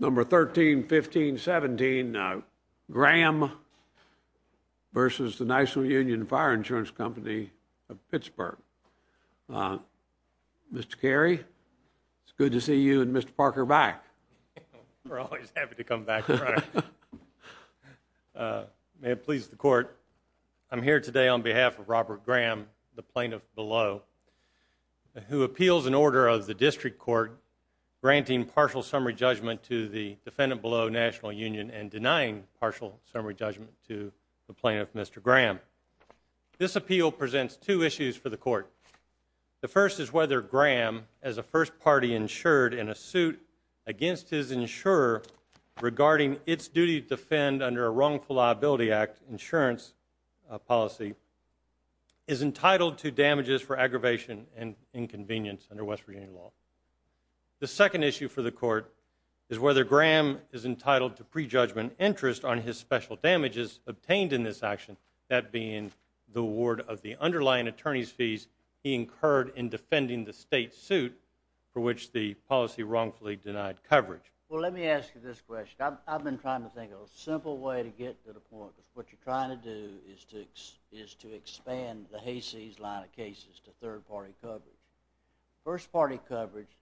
Number 13, 15, 17, Graham versus the National Union Fire Insurance Company of Pittsburgh. Mr. Carey, it's good to see you and Mr. Parker back. We're always happy to come back. May it please the Court, I'm here today on behalf of Robert Graham, the plaintiff below, who appeals an order of the District Court granting partial summary judgment to the defendant below National Union and denying partial summary judgment to the plaintiff, Mr. Graham. This appeal presents two issues for the Court. The first is whether Graham, as a first party insured in a suit against his insurer regarding its duty to defend under a Wrongful Liability Act insurance policy, is entitled to damages for aggravation and inconvenience under West Virginia law. The second issue for the Court is whether Graham is entitled to prejudgment interest on his special damages obtained in this action, that being the award of the underlying attorney's fees he incurred in defending the state suit for which the policy wrongfully denied coverage. Well, let me ask you this question. I've been trying to think of a simple way to get to the point, because what you're trying to do is to expand the Hayseeds line of cases to third party coverage. First party coverage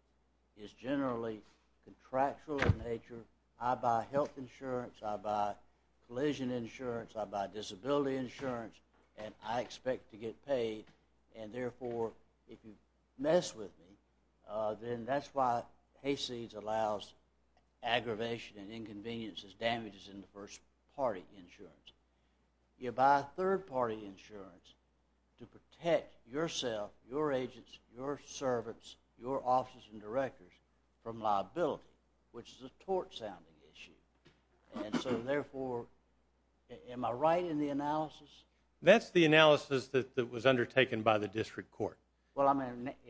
is generally contractual in nature. I buy health insurance, I buy collision insurance, I buy disability insurance, and I expect to get paid. And therefore, if you mess with me, then that's why Hayseeds allows aggravation and inconvenience as damages in the first party insurance. You buy third party insurance to protect yourself, your agents, your servants, your officers and directors from liability, which is a tort-sounding issue. And so therefore, am I right in the analysis? That's the analysis that was undertaken by the District Court. Well,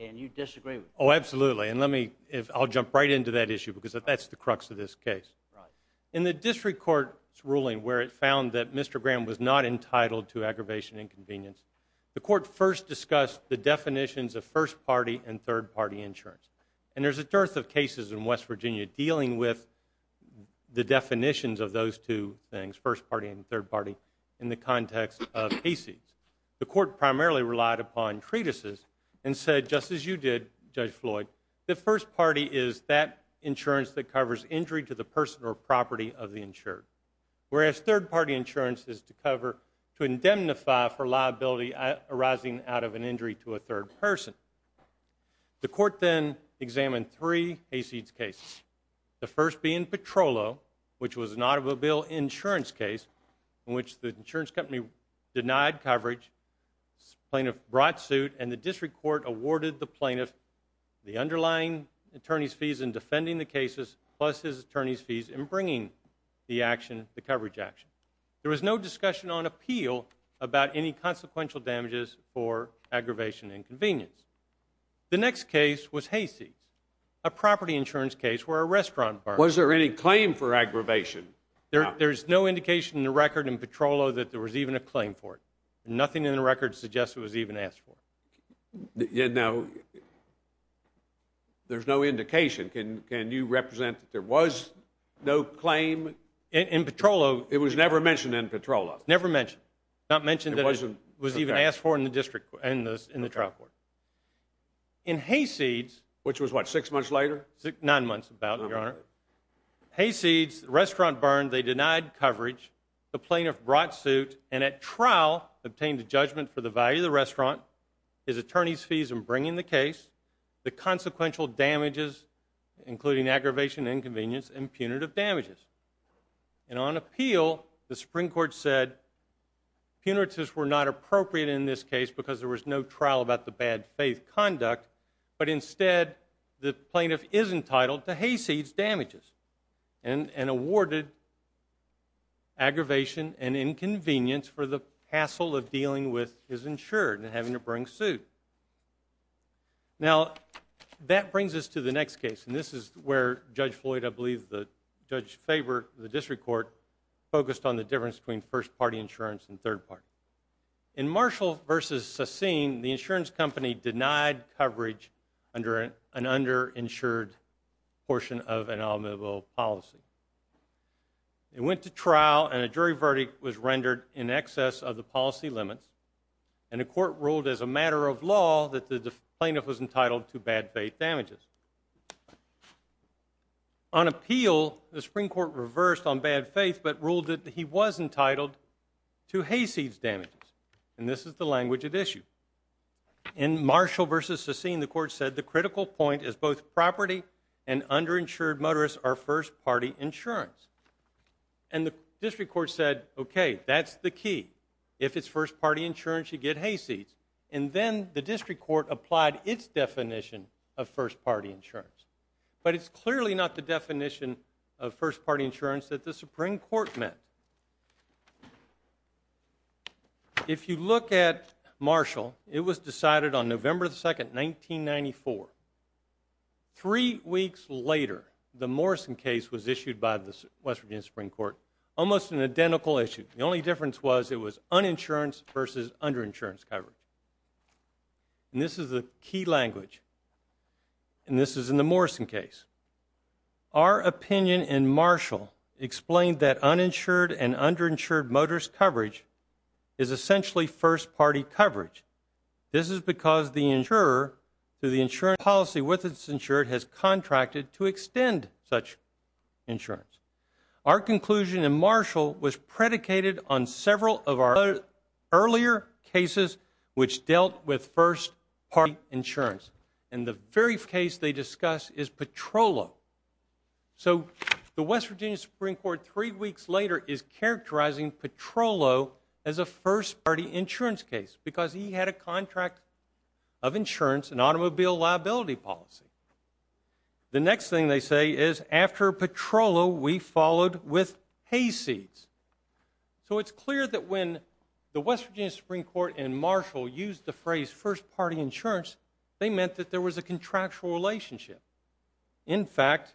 and you disagree with me. Oh, absolutely, and I'll jump right into that issue, because that's the crux of this case. In the District Court's ruling, where it found that Mr. Graham was not entitled to aggravation and inconvenience, the Court first discussed the definitions of first party and third party insurance. And there's a dearth of cases in West Virginia dealing with the definitions of those two things, first party and third party, in the context of Hayseeds. The Court primarily relied upon treatises and said, just as you did, Judge Floyd, the first party is that insurance that covers injury to the person or property of the insured, whereas third party insurance is to cover, to indemnify for liability arising out of an injury to a third person. The Court then examined three Hayseeds cases, the first being Petrolo, which was an automobile insurance case in which the insurance company denied coverage, plaintiff brought suit, and the District Court awarded the plaintiff the underlying attorney's fees in defending the cases plus his attorney's fees in bringing the action, the coverage action. There was no discussion on appeal about any consequential damages for aggravation and inconvenience. The next case was Hayseeds, a property insurance case where a restaurant bar- Was there any claim for aggravation? There's no indication in the record in Petrolo that there was even a claim for it. Nothing in the record suggests it was even asked for. Now, there's no indication. Can you represent that there was no claim? In Petrolo- It was never mentioned in Petrolo. Never mentioned. Not mentioned that it was even asked for in the District Court, in the trial court. In Hayseeds- Which was what, six months later? Nine months about, Your Honor. Hayseeds, the restaurant burned, they denied coverage, the plaintiff brought suit, and at trial obtained a judgment for the value of the restaurant, his attorney's fees in bringing the case, the consequential damages, including aggravation and inconvenience, and punitive damages. And on appeal, the Supreme Court said punitives were not appropriate in this case because there was no trial about the bad faith conduct, but instead the plaintiff is entitled to Hayseeds damages and awarded aggravation and inconvenience for the hassle of dealing with his insured and having to bring suit. Now, that brings us to the next case, and this is where Judge Floyd, I believe the judge favored the District Court, focused on the difference between first-party insurance and third-party. In Marshall v. Sassine, the insurance company denied coverage under an underinsured portion of an amicable policy. It went to trial, and a jury verdict was rendered in excess of the policy limits, and the court ruled as a matter of law that the plaintiff was entitled to bad faith damages. On appeal, the Supreme Court reversed on bad faith but ruled that he was entitled to Hayseeds damages, and this is the language at issue. In Marshall v. Sassine, the court said the critical point is both property and underinsured motorists are first-party insurance. And the District Court said, okay, that's the key. If it's first-party insurance, you get Hayseeds. And then the District Court applied its definition of first-party insurance, but it's clearly not the definition of first-party insurance that the Supreme Court meant. If you look at Marshall, it was decided on November 2, 1994. Three weeks later, the Morrison case was issued by the West Virginia Supreme Court, almost an identical issue. The only difference was it was uninsurance versus underinsurance coverage. And this is the key language, and this is in the Morrison case. Our opinion in Marshall explained that uninsured and underinsured motorist coverage is essentially first-party coverage. This is because the insurer, through the insurance policy with its insured, has contracted to extend such insurance. Our conclusion in Marshall was predicated on several of our earlier cases which dealt with first-party insurance. And the very case they discuss is Petrollo. So the West Virginia Supreme Court, three weeks later, is characterizing Petrollo as a first-party insurance case because he had a contract of insurance and automobile liability policy. The next thing they say is, after Petrollo, we followed with Hayseeds. So it's clear that when the West Virginia Supreme Court and Marshall used the phrase first-party insurance, they meant that there was a contractual relationship. In fact,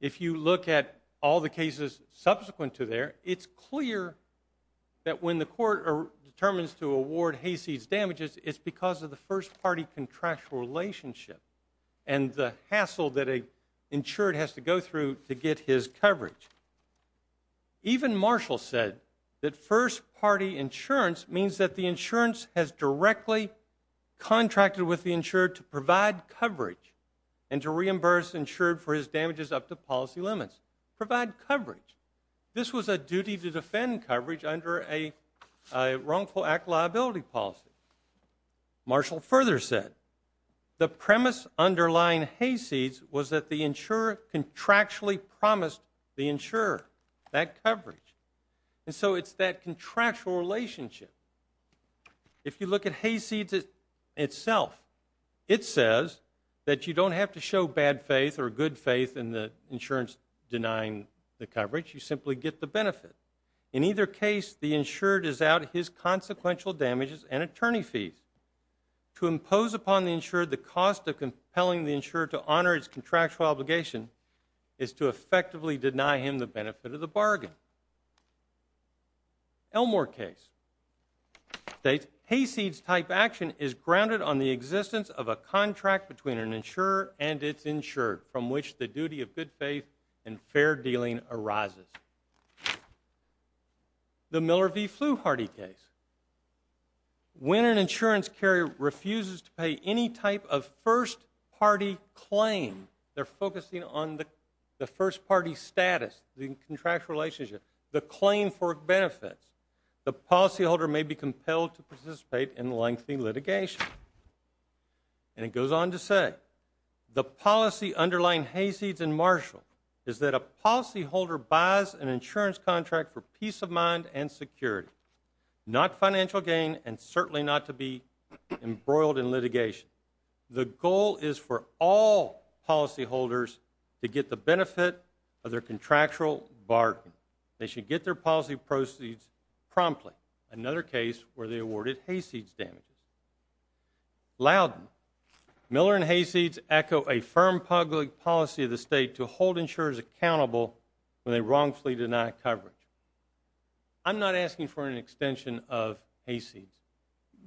if you look at all the cases subsequent to there, it's clear that when the court determines to award Hayseeds damages, it's because of the first-party contractual relationship. And the hassle that an insured has to go through to get his coverage. Even Marshall said that first-party insurance means that the insurance has directly contracted with the insured to provide coverage and to reimburse insured for his damages up to policy limits. Provide coverage. This was a duty to defend coverage under a wrongful act liability policy. Marshall further said, the premise underlying Hayseeds was that the insurer contractually promised the insurer that coverage. And so it's that contractual relationship. If you look at Hayseeds itself, it says that you don't have to show bad faith or good faith in the insurance denying the coverage. You simply get the benefit. In either case, the insured is out his consequential damages and attorney fees. To impose upon the insured the cost of compelling the insured to honor its contractual obligation is to effectively deny him the benefit of the bargain. Elmore case states, Hayseeds type action is grounded on the existence of a contract between an insurer and its insured from which the duty of good faith and fair dealing arises. The Miller v. Fluharty case. When an insurance carrier refuses to pay any type of first party claim, they're focusing on the first party status, the contractual relationship, the claim for benefits. The policyholder may be compelled to participate in lengthy litigation. And it goes on to say, the policy underlying Hayseeds and Marshall is that a policyholder buys an insurance contract for peace of mind and security, not financial gain and certainly not to be embroiled in litigation. The goal is for all policyholders to get the benefit of their contractual bargain. They should get their policy proceeds promptly. Another case where they awarded Hayseeds damages. Loudon. Miller and Hayseeds echo a firm public policy of the state to hold insurers accountable when they wrongfully deny coverage. I'm not asking for an extension of Hayseeds.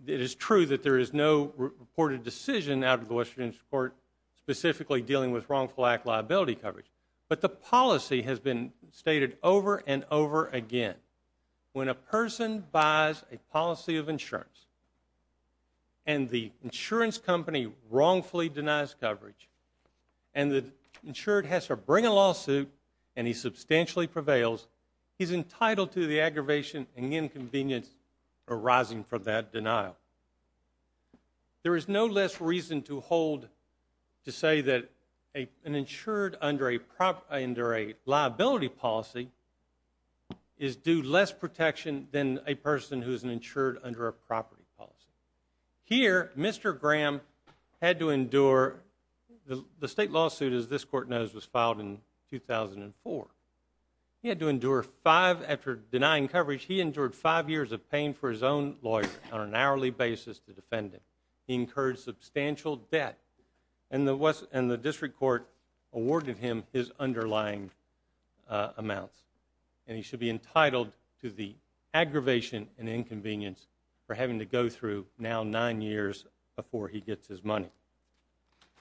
It is true that there is no reported decision out of the Western Insurance Court specifically dealing with wrongful act liability coverage. But the policy has been stated over and over again. When a person buys a policy of insurance and the insurance company wrongfully denies coverage and the insured has to bring a lawsuit and he substantially prevails, he's entitled to the aggravation and inconvenience arising from that denial. There is no less reason to say that an insured under a liability policy is due less protection than a person who is an insured under a property policy. Here, Mr. Graham had to endure the state lawsuit, as this court knows, was filed in 2004. He had to endure five, after denying coverage, he endured five years of paying for his own lawyer on an hourly basis to defend him. He incurred substantial debt and the district court awarded him his underlying amounts and he should be entitled to the aggravation and inconvenience for having to go through now nine years before he gets his money.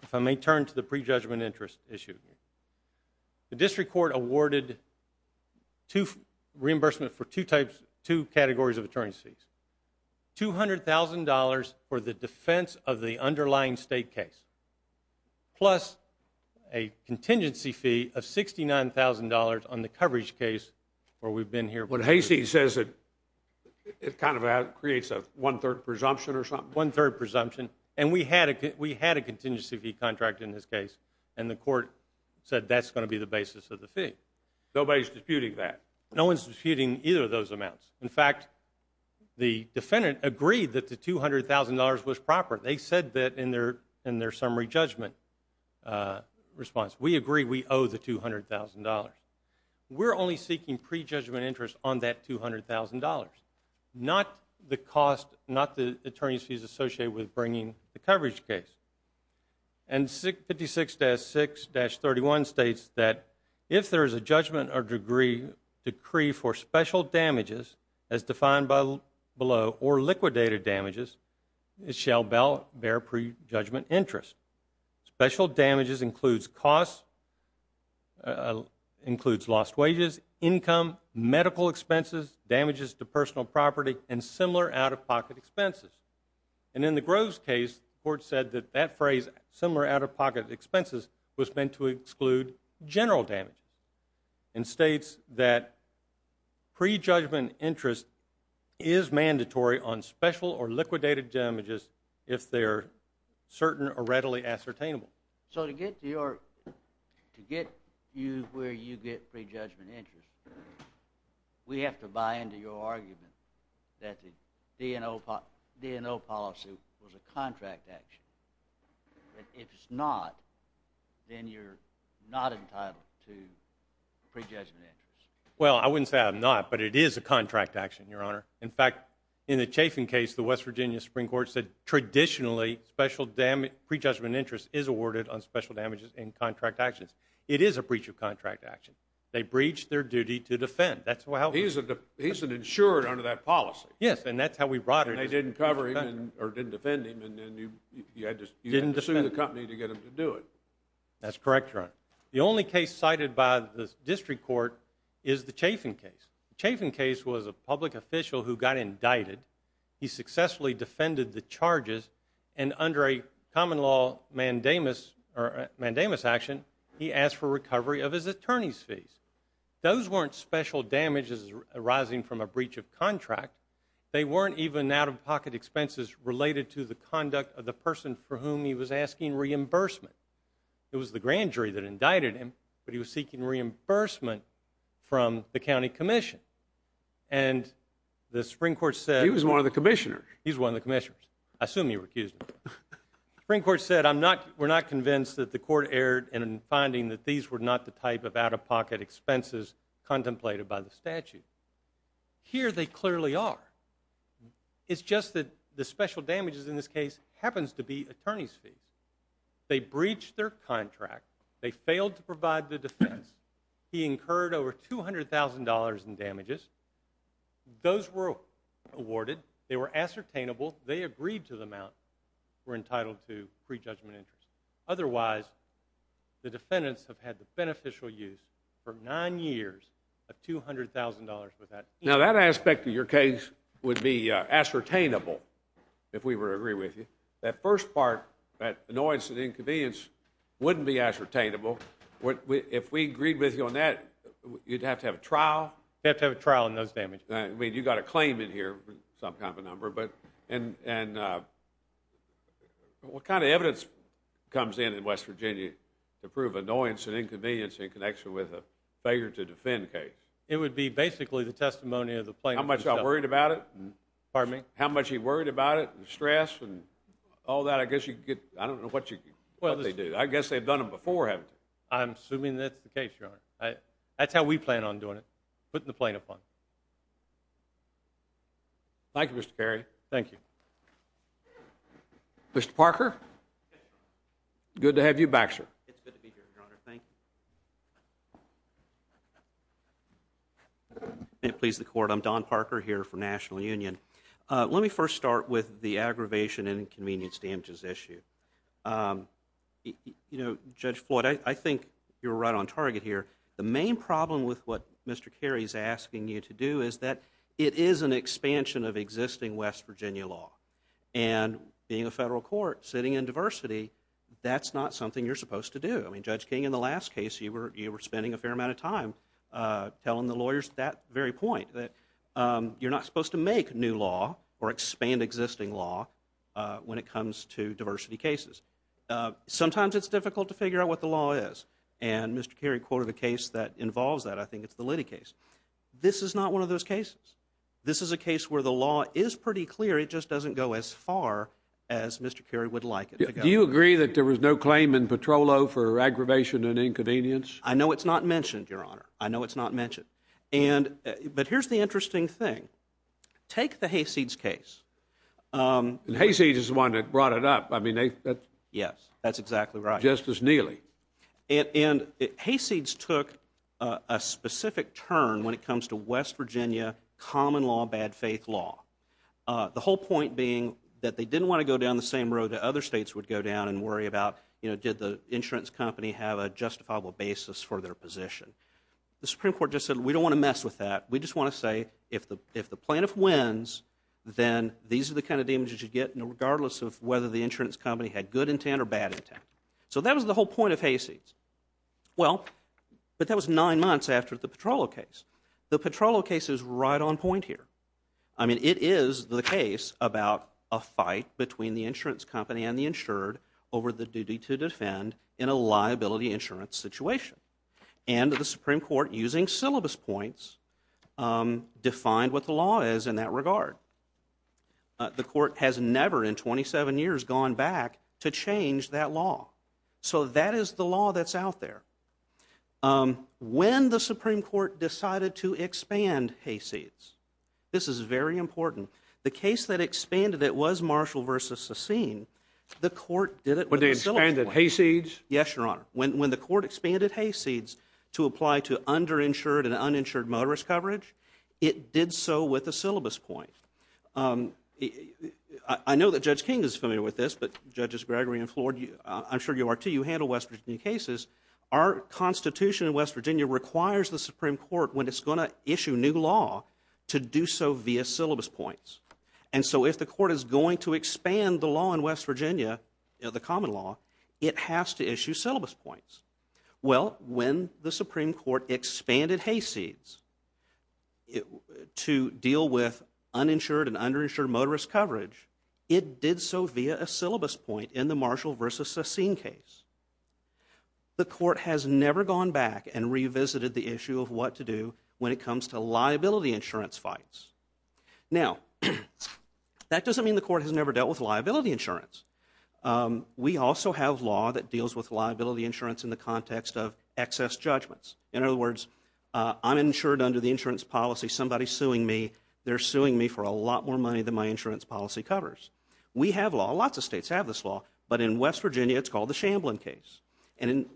If I may turn to the prejudgment interest issue. The district court awarded reimbursement for two categories of attorneys fees. $200,000 for the defense of the underlying state case plus a contingency fee of $69,000 on the coverage case where we've been here. What Hasey says, it kind of creates a one-third presumption or something. One-third presumption and we had a contingency fee contract in this case and the court said that's going to be the basis of the fee. Nobody's disputing that. No one's disputing either of those amounts. In fact, the defendant agreed that the $200,000 was proper. They said that in their summary judgment response. We agree we owe the $200,000. We're only seeking prejudgment interest on that $200,000, not the cost, not the attorney's fees associated with bringing the coverage case. And 56-6-31 states that if there is a judgment or decree for special damages as defined below or liquidated damages, it shall bear prejudgment interest. Special damages includes costs, includes lost wages, income, medical expenses, damages to personal property, and similar out-of-pocket expenses. And in the Groves case, the court said that that phrase, similar out-of-pocket expenses, was meant to exclude general damages and states that prejudgment interest is mandatory on special or liquidated damages if they are certain or readily ascertainable. So to get you where you get prejudgment interest, we have to buy into your argument that the DNO policy was a contract action. If it's not, then you're not entitled to prejudgment interest. Well, I wouldn't say I'm not, but it is a contract action, Your Honor. In fact, in the Chafin case, the West Virginia Supreme Court said traditionally prejudgment interest is awarded on special damages in contract actions. It is a breach of contract action. They breached their duty to defend. He's an insured under that policy. Yes, and that's how we brought him. And they didn't cover him or didn't defend him, and you had to sue the company to get them to do it. That's correct, Your Honor. The only case cited by the district court is the Chafin case. The Chafin case was a public official who got indicted. He successfully defended the charges, and under a common law mandamus action, he asked for recovery of his attorney's fees. Those weren't special damages arising from a breach of contract. They weren't even out-of-pocket expenses related to the conduct of the person for whom he was asking reimbursement. It was the grand jury that indicted him, but he was seeking reimbursement from the county commission. And the Supreme Court said he was one of the commissioners. He's one of the commissioners. I assume he recused him. The Supreme Court said we're not convinced that the court erred in finding that these were not the type of out-of-pocket expenses contemplated by the statute. Here they clearly are. It's just that the special damages in this case happens to be attorney's fees. They breached their contract. They failed to provide the defense. He incurred over $200,000 in damages. Those were awarded. They were ascertainable. They agreed to the amount we're entitled to pre-judgment interest. Otherwise, the defendants have had the beneficial use for nine years of $200,000 without fees. Now that aspect of your case would be ascertainable if we were to agree with you. That first part, that annoyance and inconvenience, wouldn't be ascertainable. If we agreed with you on that, you'd have to have a trial? You'd have to have a trial on those damages. You've got a claim in here, some kind of a number. What kind of evidence comes in in West Virginia to prove annoyance and inconvenience in connection with a failure to defend case? It would be basically the testimony of the plaintiff himself. How much are you worried about it? Pardon me? How much are you worried about it, the stress and all that? I don't know what they do. I guess they've done them before, haven't they? I'm assuming that's the case, Your Honor. That's how we plan on doing it, putting the plaintiff on. Thank you, Mr. Carey. Thank you. Mr. Parker? Good to have you back, sir. It's good to be here, Your Honor. Thank you. May it please the Court, I'm Don Parker here for National Union. Let me first start with the aggravation and inconvenience damages issue. You know, Judge Floyd, I think you're right on target here. The main problem with what Mr. Carey is asking you to do is that it is an expansion of existing West Virginia law. And being a federal court, sitting in diversity, that's not something you're supposed to do. I mean, Judge King, in the last case, you were spending a fair amount of time telling the lawyers that very point, that you're not supposed to make new law or expand existing law when it comes to diversity cases. Sometimes it's difficult to figure out what the law is. And Mr. Carey quoted a case that involves that. I think it's the Liddy case. This is not one of those cases. This is a case where the law is pretty clear. It just doesn't go as far as Mr. Carey would like it to go. Do you agree that there was no claim in Petrolo for aggravation and inconvenience? I know it's not mentioned, Your Honor. I know it's not mentioned. But here's the interesting thing. Take the Hayseeds case. And Hayseeds is the one that brought it up. Yes, that's exactly right. Justice Neely. And Hayseeds took a specific turn when it comes to West Virginia common law, bad faith law, the whole point being that they didn't want to go down the same road that other states would go down and worry about, you know, did the insurance company have a justifiable basis for their position. The Supreme Court just said, we don't want to mess with that. We just want to say if the plaintiff wins, then these are the kind of damages you get regardless of whether the insurance company had good intent or bad intent. So that was the whole point of Hayseeds. Well, but that was nine months after the Petrolo case. The Petrolo case is right on point here. I mean, it is the case about a fight between the insurance company and the insured over the duty to defend in a liability insurance situation. And the Supreme Court, using syllabus points, defined what the law is in that regard. The court has never in 27 years gone back to change that law. So that is the law that's out there. When the Supreme Court decided to expand Hayseeds, this is very important. The case that expanded it was Marshall v. Sassine. The court did it with a syllabus point. When they expanded Hayseeds? Yes, Your Honor. When the court expanded Hayseeds to apply to underinsured and uninsured motorist coverage, it did so with a syllabus point. I know that Judge King is familiar with this, but Judges Gregory and Floyd, I'm sure you are too. You handle West Virginia cases. Our Constitution in West Virginia requires the Supreme Court, when it's going to issue new law, to do so via syllabus points. And so if the court is going to expand the law in West Virginia, the common law, it has to issue syllabus points. Well, when the Supreme Court expanded Hayseeds to deal with uninsured and underinsured motorist coverage, it did so via a syllabus point in the Marshall v. Sassine case. The court has never gone back and revisited the issue of what to do when it comes to liability insurance fights. Now, that doesn't mean the court has never dealt with liability insurance. We also have law that deals with liability insurance in the context of excess judgments. In other words, I'm insured under the insurance policy. Somebody's suing me. They're suing me for a lot more money than my insurance policy covers. We have law. Lots of states have this law. But in West Virginia, it's called the Shamblin case. And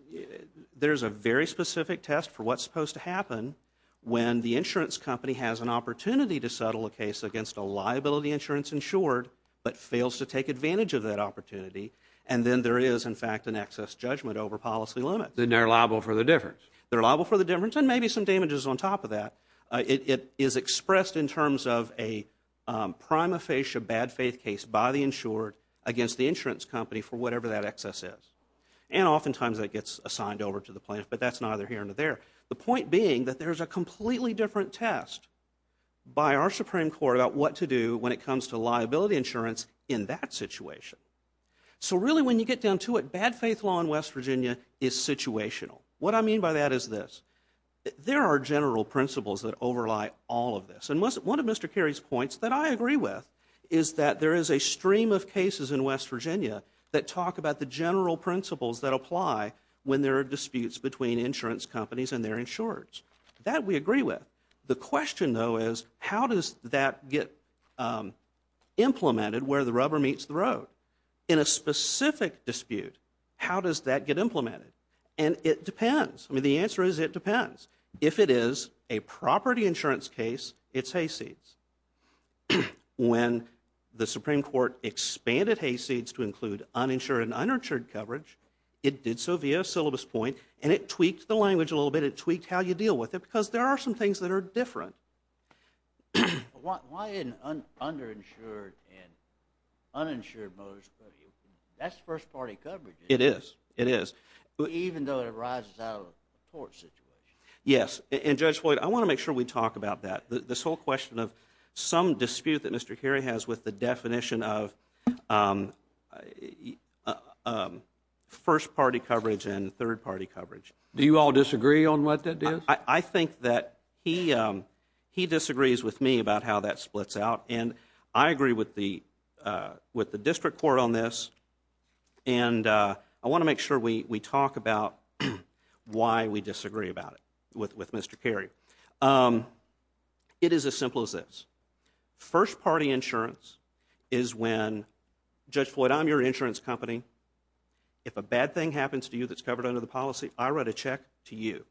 there's a very specific test for what's supposed to happen when the insurance company has an opportunity to settle a case against a liability insurance insured but fails to take advantage of that opportunity, and then there is, in fact, an excess judgment over policy limits. Then they're liable for the difference. They're liable for the difference and maybe some damages on top of that. It is expressed in terms of a prima facie bad faith case by the insured against the insurance company for whatever that excess is. And oftentimes, that gets assigned over to the plaintiff, but that's neither here nor there. The point being that there's a completely different test by our Supreme Court about what to do when it comes to liability insurance in that situation. So really when you get down to it, bad faith law in West Virginia is situational. What I mean by that is this. There are general principles that overlie all of this. And one of Mr. Carey's points that I agree with is that there is a stream of cases in West Virginia that talk about the general principles that apply when there are disputes between insurance companies and their insurers. That we agree with. The question, though, is how does that get implemented where the rubber meets the road? In a specific dispute, how does that get implemented? And it depends. I mean, the answer is it depends. If it is a property insurance case, it's hayseeds. When the Supreme Court expanded hayseeds to include uninsured and uninsured coverage, it did so via a syllabus point and it tweaked the language a little bit. It tweaked how you deal with it because there are some things that are different. Why isn't underinsured and uninsured coverage? That's first party coverage. It is. It is. Even though it arises out of a tort situation. Yes. And Judge Floyd, I want to make sure we talk about that. This whole question of some dispute that Mr. Kerry has with the definition of first party coverage and third party coverage. Do you all disagree on what that is? I think that he disagrees with me about how that splits out. And I agree with the district court on this. And I want to make sure we talk about why we disagree about it with Mr. Kerry. It is as simple as this. First party insurance is when Judge Floyd, I'm your insurance company. If a bad thing happens to you that's covered under the policy, I write a check to you.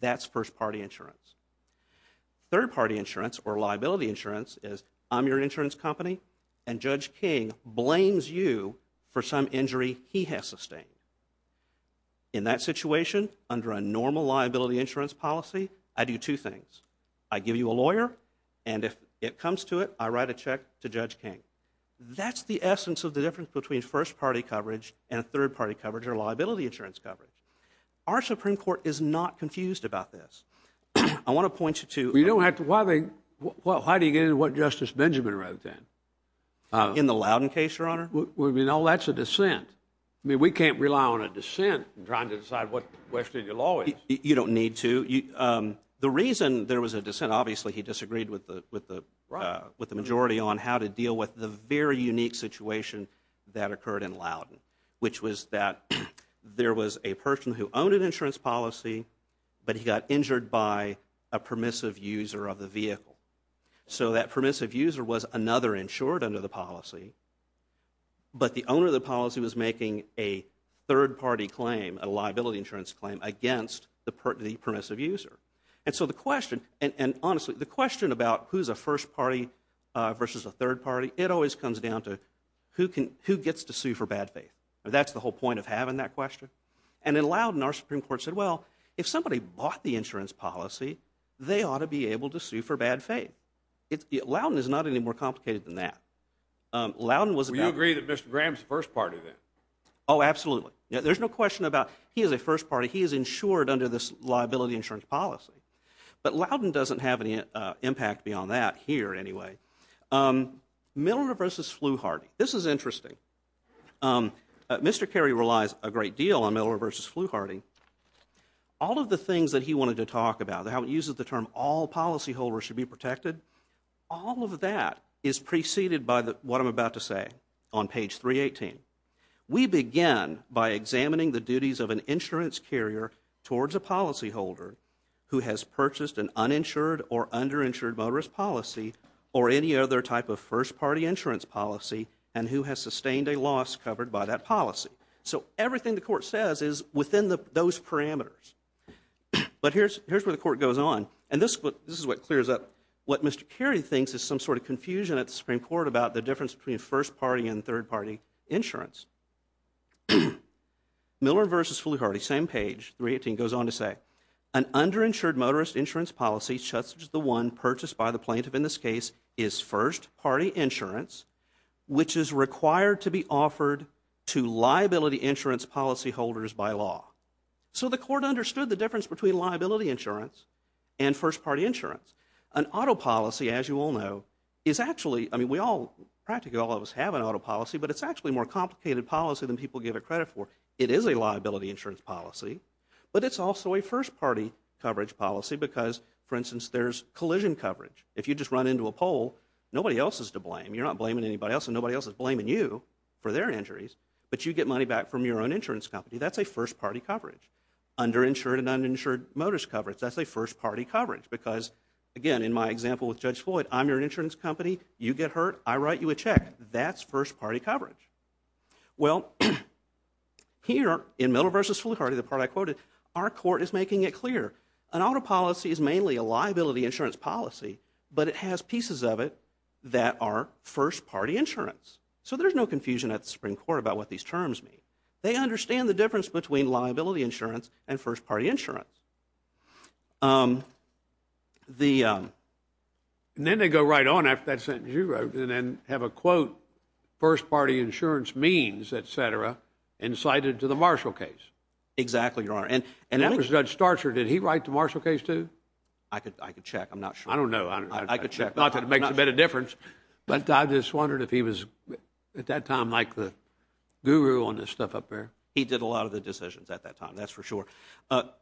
That's first party insurance. Third party insurance or liability insurance is I'm your insurance company and Judge King blames you for some injury he has sustained. In that situation, under a normal liability insurance policy, I do two things. I give you a lawyer and if it comes to it, I write a check to Judge King. That's the essence of the difference between first party coverage and third party coverage or liability insurance coverage. Our Supreme Court is not confused about this. I want to point you to... You don't have to. Why do you get into what Justice Benjamin wrote then? In the Loudon case, Your Honor? No, that's a dissent. I mean, we can't rely on a dissent in trying to decide what question your law is. You don't need to. The reason there was a dissent, obviously he disagreed with the majority on how to deal with the very unique situation that occurred in Loudon, which was that there was a person who owned an insurance policy, but he got injured by a permissive user of the vehicle. So that permissive user was another insured under the policy, but the owner of the policy was making a third party claim, a liability insurance claim against the permissive user. And so the question, and honestly, the question about who's a first party versus a third party, it always comes down to who gets to sue for bad faith. That's the whole point of having that question. And in Loudon, our Supreme Court said, well, if somebody bought the insurance policy, they ought to be able to sue for bad faith. Loudon is not any more complicated than that. Would you agree that Mr. Graham's a first party then? Oh, absolutely. There's no question about he is a first party. He is insured under this liability insurance policy. But Loudon doesn't have any impact beyond that here anyway. Milner versus Flewharty. This is interesting. Mr. Carey relies a great deal on Milner versus Flewharty. All of the things that he wanted to talk about, how he uses the term all policyholders should be protected, all of that is preceded by what I'm about to say on page 318. We begin by examining the duties of an insurance carrier towards a policyholder who has purchased an uninsured or underinsured motorist policy or any other type of first party insurance policy and who has sustained a loss covered by that policy. So everything the Court says is within those parameters. But here's where the Court goes on. And this is what clears up what Mr. Carey thinks is some sort of confusion at the Supreme Court about the difference between first party and third party insurance. Milner versus Flewharty, same page, 318, goes on to say, An underinsured motorist insurance policy, such as the one purchased by the plaintiff in this case, is first party insurance which is required to be offered to liability insurance policyholders by law. So the Court understood the difference between liability insurance and first party insurance. An auto policy, as you all know, is actually, I mean we all, practically all of us have an auto policy, but it's actually a more complicated policy than people give it credit for. It is a liability insurance policy, but it's also a first party coverage policy because, for instance, there's collision coverage. If you just run into a pole, nobody else is to blame. You're not blaming anybody else and nobody else is blaming you for their injuries, but you get money back from your own insurance company. That's a first party coverage. Underinsured and uninsured motorist coverage, that's a first party coverage because, again, in my example with Judge Floyd, I'm your insurance company. You get hurt, I write you a check. That's first party coverage. Well, here in Miller v. Fluharty, the part I quoted, our court is making it clear. An auto policy is mainly a liability insurance policy, but it has pieces of it that are first party insurance. So there's no confusion at the Supreme Court about what these terms mean. They understand the difference between liability insurance and first party insurance. And then they go right on after that sentence you wrote and then have a quote, first party insurance means, et cetera, incited to the Marshall case. Exactly, Your Honor. And that was Judge Starcher. Did he write the Marshall case too? I could check. I'm not sure. I don't know. I could check. Not that it makes a bit of difference, but I just wondered if he was, at that time, like the guru on this stuff up there. He did a lot of the decisions at that time, that's for sure. But,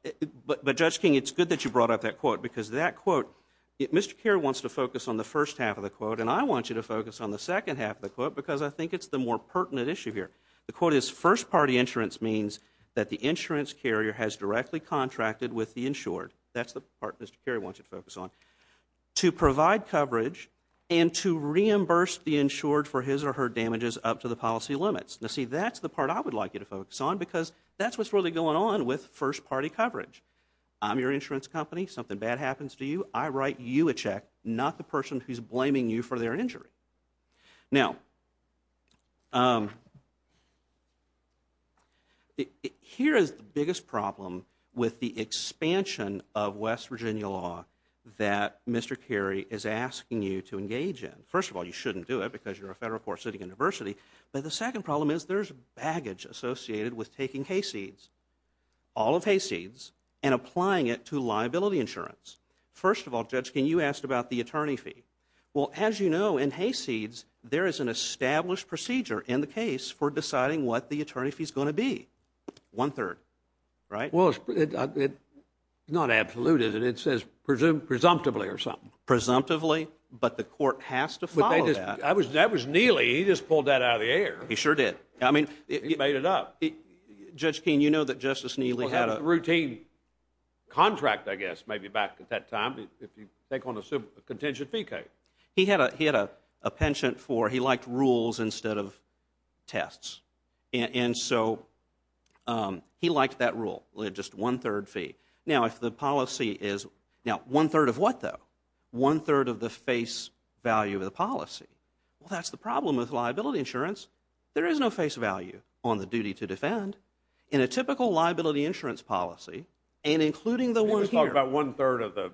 Judge King, it's good that you brought up that quote because that quote, Mr. Carey wants to focus on the first half of the quote and I want you to focus on the second half of the quote because I think it's the more pertinent issue here. The quote is, first party insurance means that the insurance carrier has directly contracted with the insured. That's the part Mr. Carey wants you to focus on. To provide coverage and to reimburse the insured for his or her damages up to the policy limits. Now, see, that's the part I would like you to focus on because that's what's really going on with first party coverage. I'm your insurance company, something bad happens to you, I write you a check, not the person who's blaming you for their injury. Now, here is the biggest problem with the expansion of West Virginia law that Mr. Carey is asking you to engage in. First of all, you shouldn't do it because you're a federal court sitting in adversity. But the second problem is there's baggage associated with taking Hayseeds, all of Hayseeds, and applying it to liability insurance. First of all, Judge, can you ask about the attorney fee? Well, as you know, in Hayseeds, there is an established procedure in the case for deciding what the attorney fee is going to be. One third, right? Well, it's not absolute, is it? It says presumptively or something. Presumptively, but the court has to follow that. That was Neely, he just pulled that out of the air. He sure did. He made it up. Judge Keene, you know that Justice Neely had a... Well, he had a routine contract, I guess, maybe back at that time, if you take on a contention fee case. He had a penchant for, he liked rules instead of tests. And so he liked that rule, just one third fee. Now, if the policy is, now, one third of what, though? One third of the face value of the policy? Well, that's the problem with liability insurance. There is no face value on the duty to defend. In a typical liability insurance policy, and including the one here... He was talking about one third of the,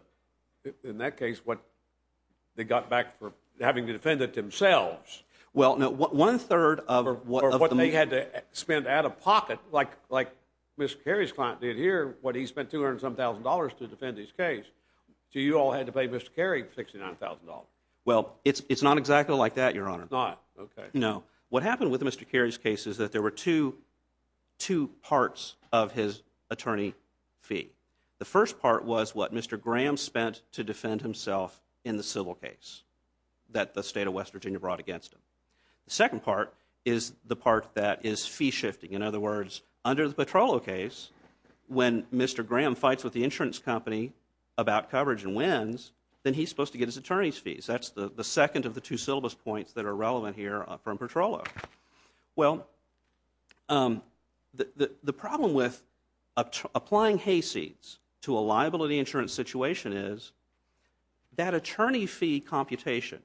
in that case, what they got back for having to defend it themselves. Well, no, one third of... Or what they had to spend out of pocket, like Mr. Carey's client did here, what he spent $200-some thousand to defend his case. So you all had to pay Mr. Carey $69,000. Well, it's not exactly like that, Your Honor. It's not? Okay. No. What happened with Mr. Carey's case is that there were two parts of his attorney fee. The first part was what Mr. Graham spent to defend himself in the civil case that the state of West Virginia brought against him. The second part is the part that is fee-shifting. In other words, under the Petrollo case, when Mr. Graham fights with the insurance company about coverage and wins, then he's supposed to get his attorney's fees. That's the second of the two syllabus points that are relevant here from Petrollo. Well, the problem with applying hayseeds to a liability insurance situation is that attorney fee computation,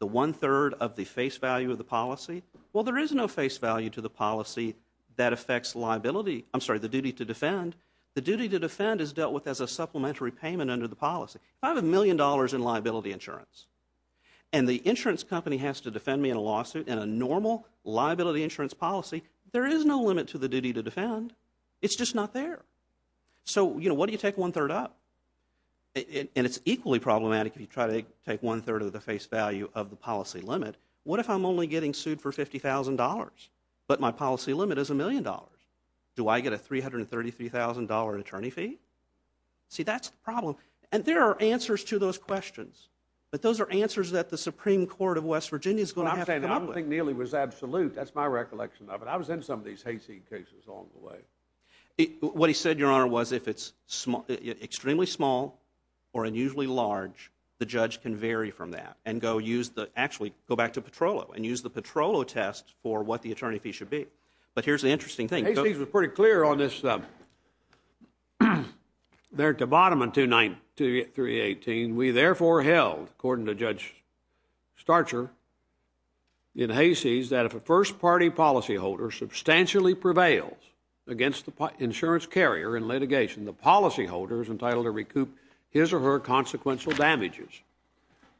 the one third of the face value of the policy, well, there is no face value to the policy that affects liability. I'm sorry, the duty to defend. The duty to defend is dealt with as a supplementary payment under the policy. If I have a million dollars in liability insurance and the insurance company has to defend me in a lawsuit in a normal liability insurance policy, there is no limit to the duty to defend. It's just not there. So, you know, what do you take one third up? And it's equally problematic if you try to take one third of the face value of the policy limit. What if I'm only getting sued for $50,000 but my policy limit is a million dollars? Do I get a $333,000 attorney fee? See, that's the problem. And there are answers to those questions. But those are answers that the Supreme Court of West Virginia is going to have to come up with. I don't think Neely was absolute. That's my recollection of it. I was in some of these hayseed cases along the way. What he said, Your Honor, was if it's extremely small or unusually large, the judge can vary from that and go use the, actually go back to Petrollo and use the Petrollo test for what the attorney fee should be. But here's the interesting thing. Hayseed was pretty clear on this there at the bottom in 29318. We therefore held, according to Judge Starcher, in Hayseed, that if a first-party policyholder substantially prevails against the insurance carrier in litigation, the policyholder is entitled to recoup his or her consequential damages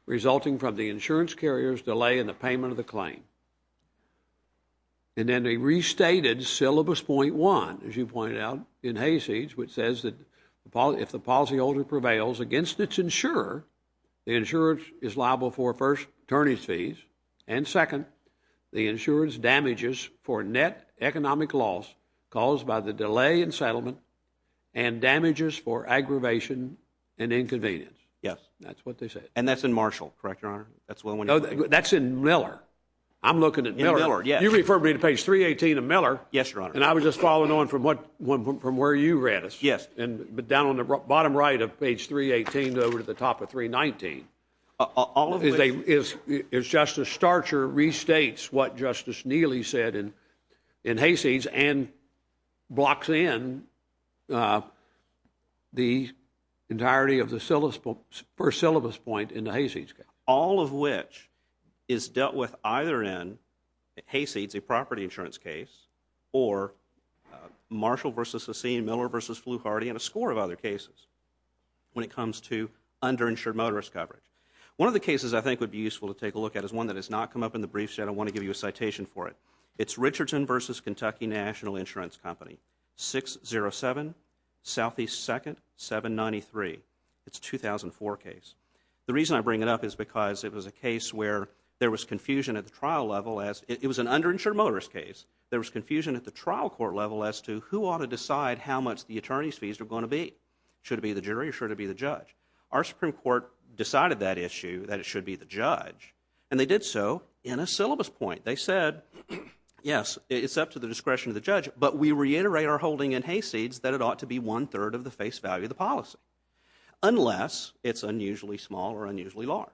resulting from the insurance carrier's delay in the payment of the claim. And then they restated Syllabus 0.1, as you pointed out, in Hayseed, which says that if the policyholder prevails against its insurer, the insurance is liable for, first, attorney's fees, and, second, the insurance damages for net economic loss caused by the delay in settlement and damages for aggravation and inconvenience. Yes. That's what they said. And that's in Marshall, correct, Your Honor? That's the one you're looking at? No, that's in Miller. I'm looking at Miller. In Miller, yes. You referred me to page 318 of Miller. Yes, Your Honor. And I was just following on from where you read us. Yes. But down on the bottom right of page 318 over to the top of 319, all of it is Justice Starcher restates what Justice Neely said in Hayseed and blocks in the entirety of the first syllabus point in the Hayseed case. All of which is dealt with either in Hayseed's property insurance case or Marshall v. Sassine, Miller v. Fluharty, and a score of other cases when it comes to underinsured motorist coverage. One of the cases I think would be useful to take a look at is one that has not come up in the briefs yet. I want to give you a citation for it. It's Richardson v. Kentucky National Insurance Company, 607 Southeast 2nd, 793. It's a 2004 case. The reason I bring it up is because it was a case where there was confusion at the trial level. It was an underinsured motorist case. There was confusion at the trial court level as to who ought to decide how much the attorney's fees are going to be. Should it be the jury or should it be the judge? Our Supreme Court decided that issue, that it should be the judge, and they did so in a syllabus point. They said, yes, it's up to the discretion of the judge, but we reiterate our holding in Hayseeds that it ought to be one-third of the face value of the policy unless it's unusually small or unusually large.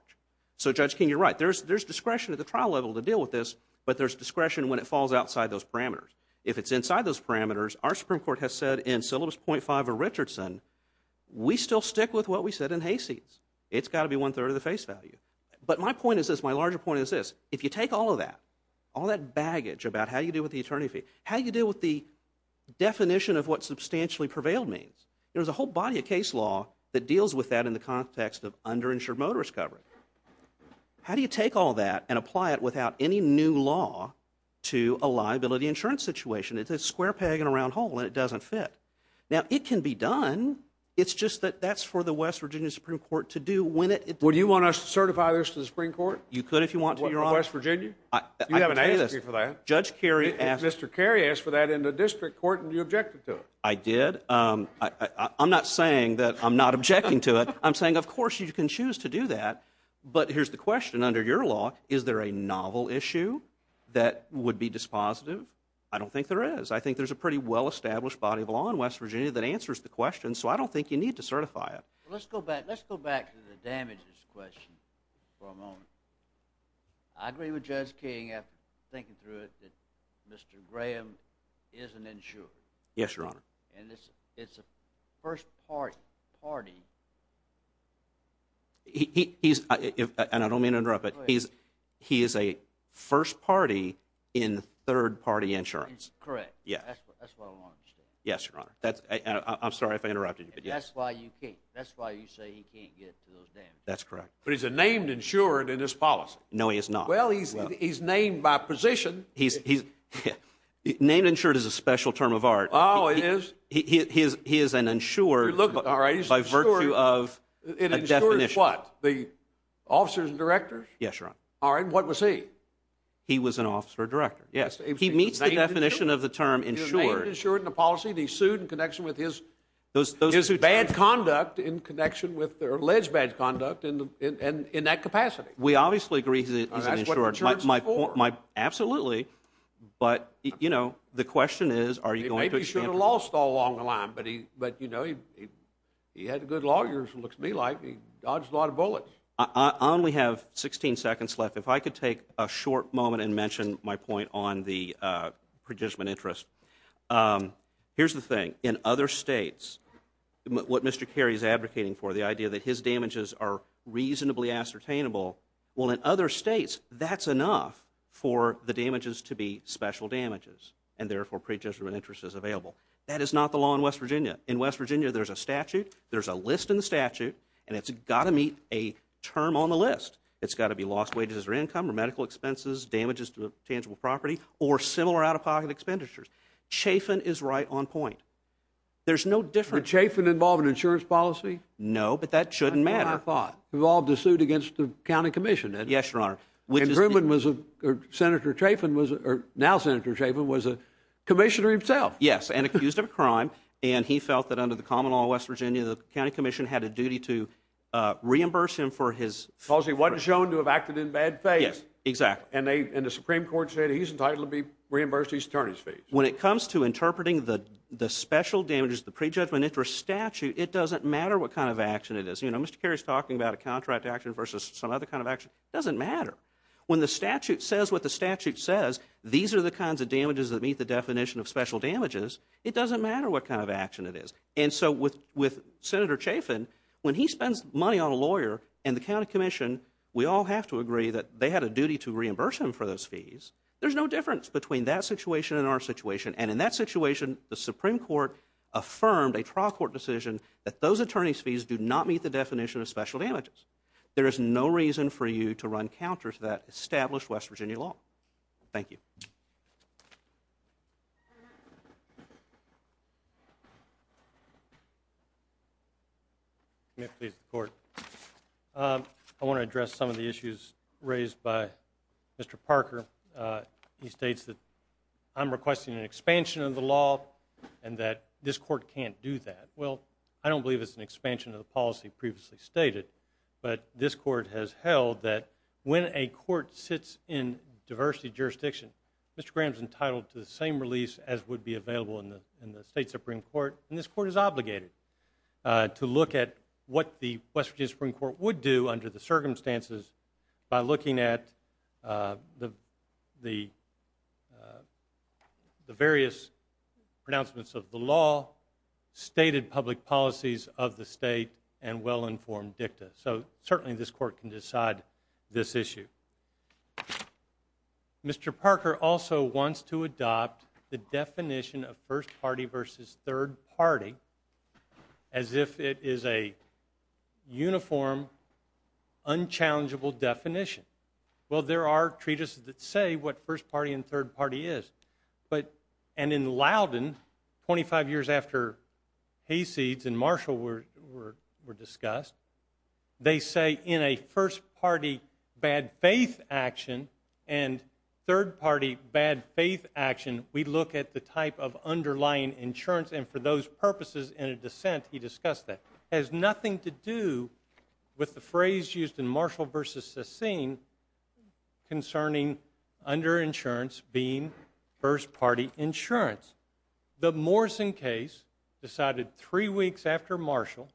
So, Judge King, you're right. There's discretion at the trial level to deal with this, but there's discretion when it falls outside those parameters. If it's inside those parameters, our Supreme Court has said in syllabus point 5 of Richardson, we still stick with what we said in Hayseeds. It's got to be one-third of the face value. But my point is this, my larger point is this. If you take all of that, all that baggage about how you deal with the attorney fee, how you deal with the definition of what substantially prevailed means, there's a whole body of case law that deals with that in the context of underinsured motorist coverage. How do you take all that and apply it without any new law to a liability insurance situation? It's a square peg in a round hole, and it doesn't fit. Now, it can be done. It's just that that's for the West Virginia Supreme Court to do when it... Would you want us to certify this to the Supreme Court? You could if you want to. West Virginia? You haven't asked me for that. Judge Kerry asked... Mr. Kerry asked for that in the district court, and you objected to it. I did. I'm not saying that I'm not objecting to it. I'm saying, of course, you can choose to do that. But here's the question. Under your law, is there a novel issue that would be dispositive? I don't think there is. I think there's a pretty well-established body of law in West Virginia that answers the question, so I don't think you need to certify it. Let's go back to the damages question for a moment. I agree with Judge King, after thinking through it, that Mr. Graham isn't insured. Yes, Your Honor. And it's a first-party... He's... and I don't mean to interrupt, but he is a first party in third-party insurance. Correct. Yes. That's what I want to understand. Yes, Your Honor. I'm sorry if I interrupted you, but yes. That's why you say he can't get to those damages. That's correct. But he's a named insured in this policy. No, he is not. Well, he's named by position. He's... Named insured is a special term of art. Oh, it is? He is an insured by virtue of a definition. It insures what? The officers and directors? Yes, Your Honor. All right. What was he? He was an officer director. Yes. He meets the definition of the term insured. He was named insured in the policy, and he sued in connection with his... Those who... His bad conduct in connection with their alleged bad conduct in that capacity. We obviously agree he's an insured. That's what insured's for. Absolutely. But, you know, the question is, are you going to... Maybe he should have lost all along the line. But, you know, he had good lawyers, looks to me like. He dodged a lot of bullets. We have 16 seconds left. If I could take a short moment and mention my point on the participant interest. Here's the thing. In other states, what Mr. Kerry is advocating for, the idea that his damages are reasonably ascertainable, well, in other states, that's enough for the damages to be special damages and, therefore, prejudicial interest is available. That is not the law in West Virginia. In West Virginia, there's a statute, there's a list in the statute, and it's got to meet a term on the list. It's got to be lost wages or income or medical expenses, damages to tangible property, or similar out-of-pocket expenditures. Chafin is right on point. There's no difference... Did Chafin involve in insurance policy? No, but that shouldn't matter. I thought. Did Chafin involve in the suit against the county commission? Yes, Your Honor. Senator Chafin, or now Senator Chafin, was a commissioner himself. Yes, and accused of a crime, and he felt that under the common law of West Virginia, the county commission had a duty to reimburse him for his... Because he wasn't shown to have acted in bad faith. Yes, exactly. And the Supreme Court said he's entitled to be reimbursed his attorney's fees. When it comes to interpreting the special damages, the prejudicial interest statute, it doesn't matter what kind of action it is. You know, Mr. Carey's talking about a contract action versus some other kind of action. It doesn't matter. When the statute says what the statute says, these are the kinds of damages that meet the definition of special damages, it doesn't matter what kind of action it is. And so with Senator Chafin, when he spends money on a lawyer and the county commission, we all have to agree that they had a duty to reimburse him for those fees. There's no difference between that situation and our situation. And in that situation, the Supreme Court affirmed a trial court decision that those attorney's fees do not meet the definition of special damages. There is no reason for you to run counter to that established West Virginia law. Thank you. Let me please report. I want to address some of the issues raised by Mr. Parker. He states that I'm requesting an expansion of the law and that this court can't do that. Well, I don't believe it's an expansion of the policy previously stated, but this court has held that when a court sits in diversity jurisdiction, Mr. Graham's entitled to the same release as would be available in the state Supreme Court, and this court is obligated to look at what the West Virginia Supreme Court would do under the circumstances by looking at the various pronouncements of the law stated public policies of the state and well-informed dicta. So certainly this court can decide this issue. Mr. Parker also wants to adopt the definition of first party versus third party as if it is a uniform, unchallengeable definition. Well, there are treatises that say what first party and third party is, and in Loudon, 25 years after Hayseeds and Marshall were discussed, they say in a first party bad faith action and third party bad faith action, we look at the type of underlying insurance, and for those purposes in a dissent he discussed that. It has nothing to do with the phrase used in Marshall v. Sassin concerning underinsurance being first party insurance. The Morrison case decided three weeks after Marshall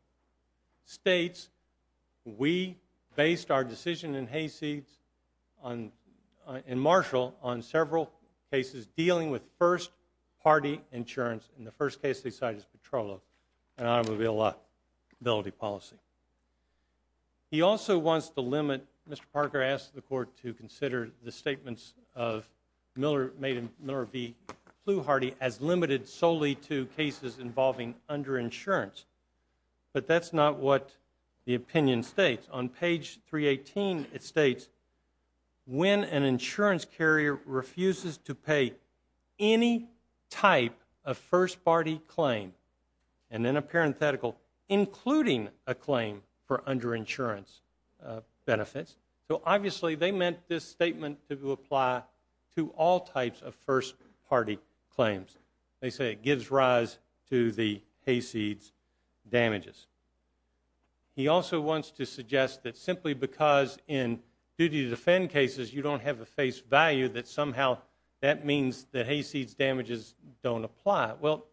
states, we based our decision in Hayseeds and Marshall on several cases dealing with first party insurance, and the first case they cited is Petrolo and automobile liability policy. He also wants to limit, Mr. Parker asked the court to consider the statements of Miller v. Plooharty as limited solely to cases involving underinsurance, but that's not what the opinion states. On page 318 it states, when an insurance carrier refuses to pay any type of first party claim, and in a parenthetical, including a claim for underinsurance benefits, so obviously they meant this statement to apply to all types of first party claims. They say it gives rise to the Hayseeds damages. He also wants to suggest that simply because in duty to defend cases you don't have a face value that somehow that means the Hayseeds damages don't apply. Well,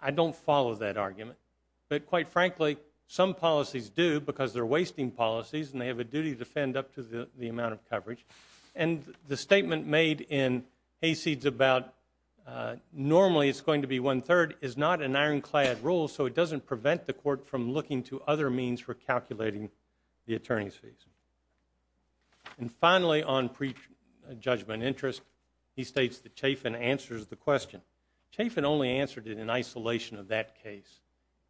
I don't follow that argument. But quite frankly, some policies do because they're wasting policies and they have a duty to defend up to the amount of coverage. And the statement made in Hayseeds about normally it's going to be one-third is not an ironclad rule, so it doesn't prevent the court from looking to other means for calculating the attorney's fees. And finally on prejudgment interest, he states that Chafin answers the question. Chafin only answered it in isolation of that case.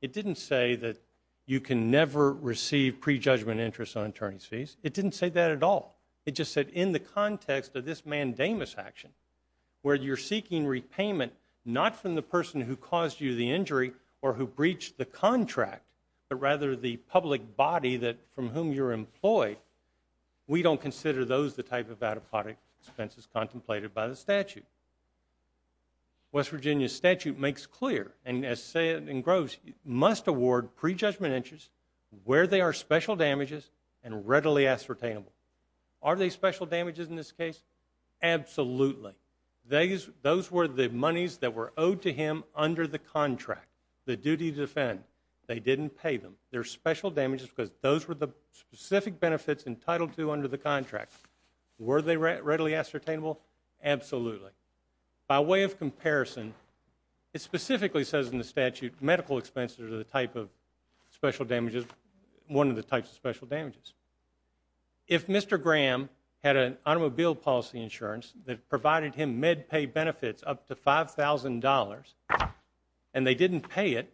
It didn't say that you can never receive prejudgment interest on attorney's fees. It didn't say that at all. It just said in the context of this mandamus action, where you're seeking repayment not from the person who caused you the injury or who breached the contract, but rather the public body from whom you're employed, we don't consider those the type of adequate expenses contemplated by the statute. West Virginia statute makes clear, and as said in Groves, must award prejudgment interest where they are special damages and readily ascertainable. Are they special damages in this case? Absolutely. Those were the monies that were owed to him under the contract, the duty to defend. They didn't pay them. They're special damages because those were the specific benefits entitled to under the contract. Were they readily ascertainable? Absolutely. By way of comparison, it specifically says in the statute, medical expenses are one of the types of special damages. If Mr. Graham had an automobile policy insurance that provided him MedPay benefits up to $5,000 and they didn't pay it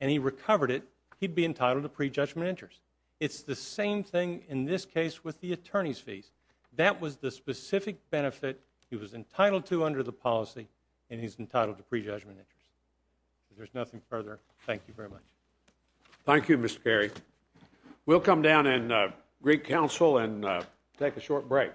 and he recovered it, he'd be entitled to prejudgment interest. It's the same thing in this case with the attorney's fees. That was the specific benefit he was entitled to under the policy, and he's entitled to prejudgment interest. If there's nothing further, thank you very much. Thank you, Mr. Carey. We'll come down and greet counsel and take a short break.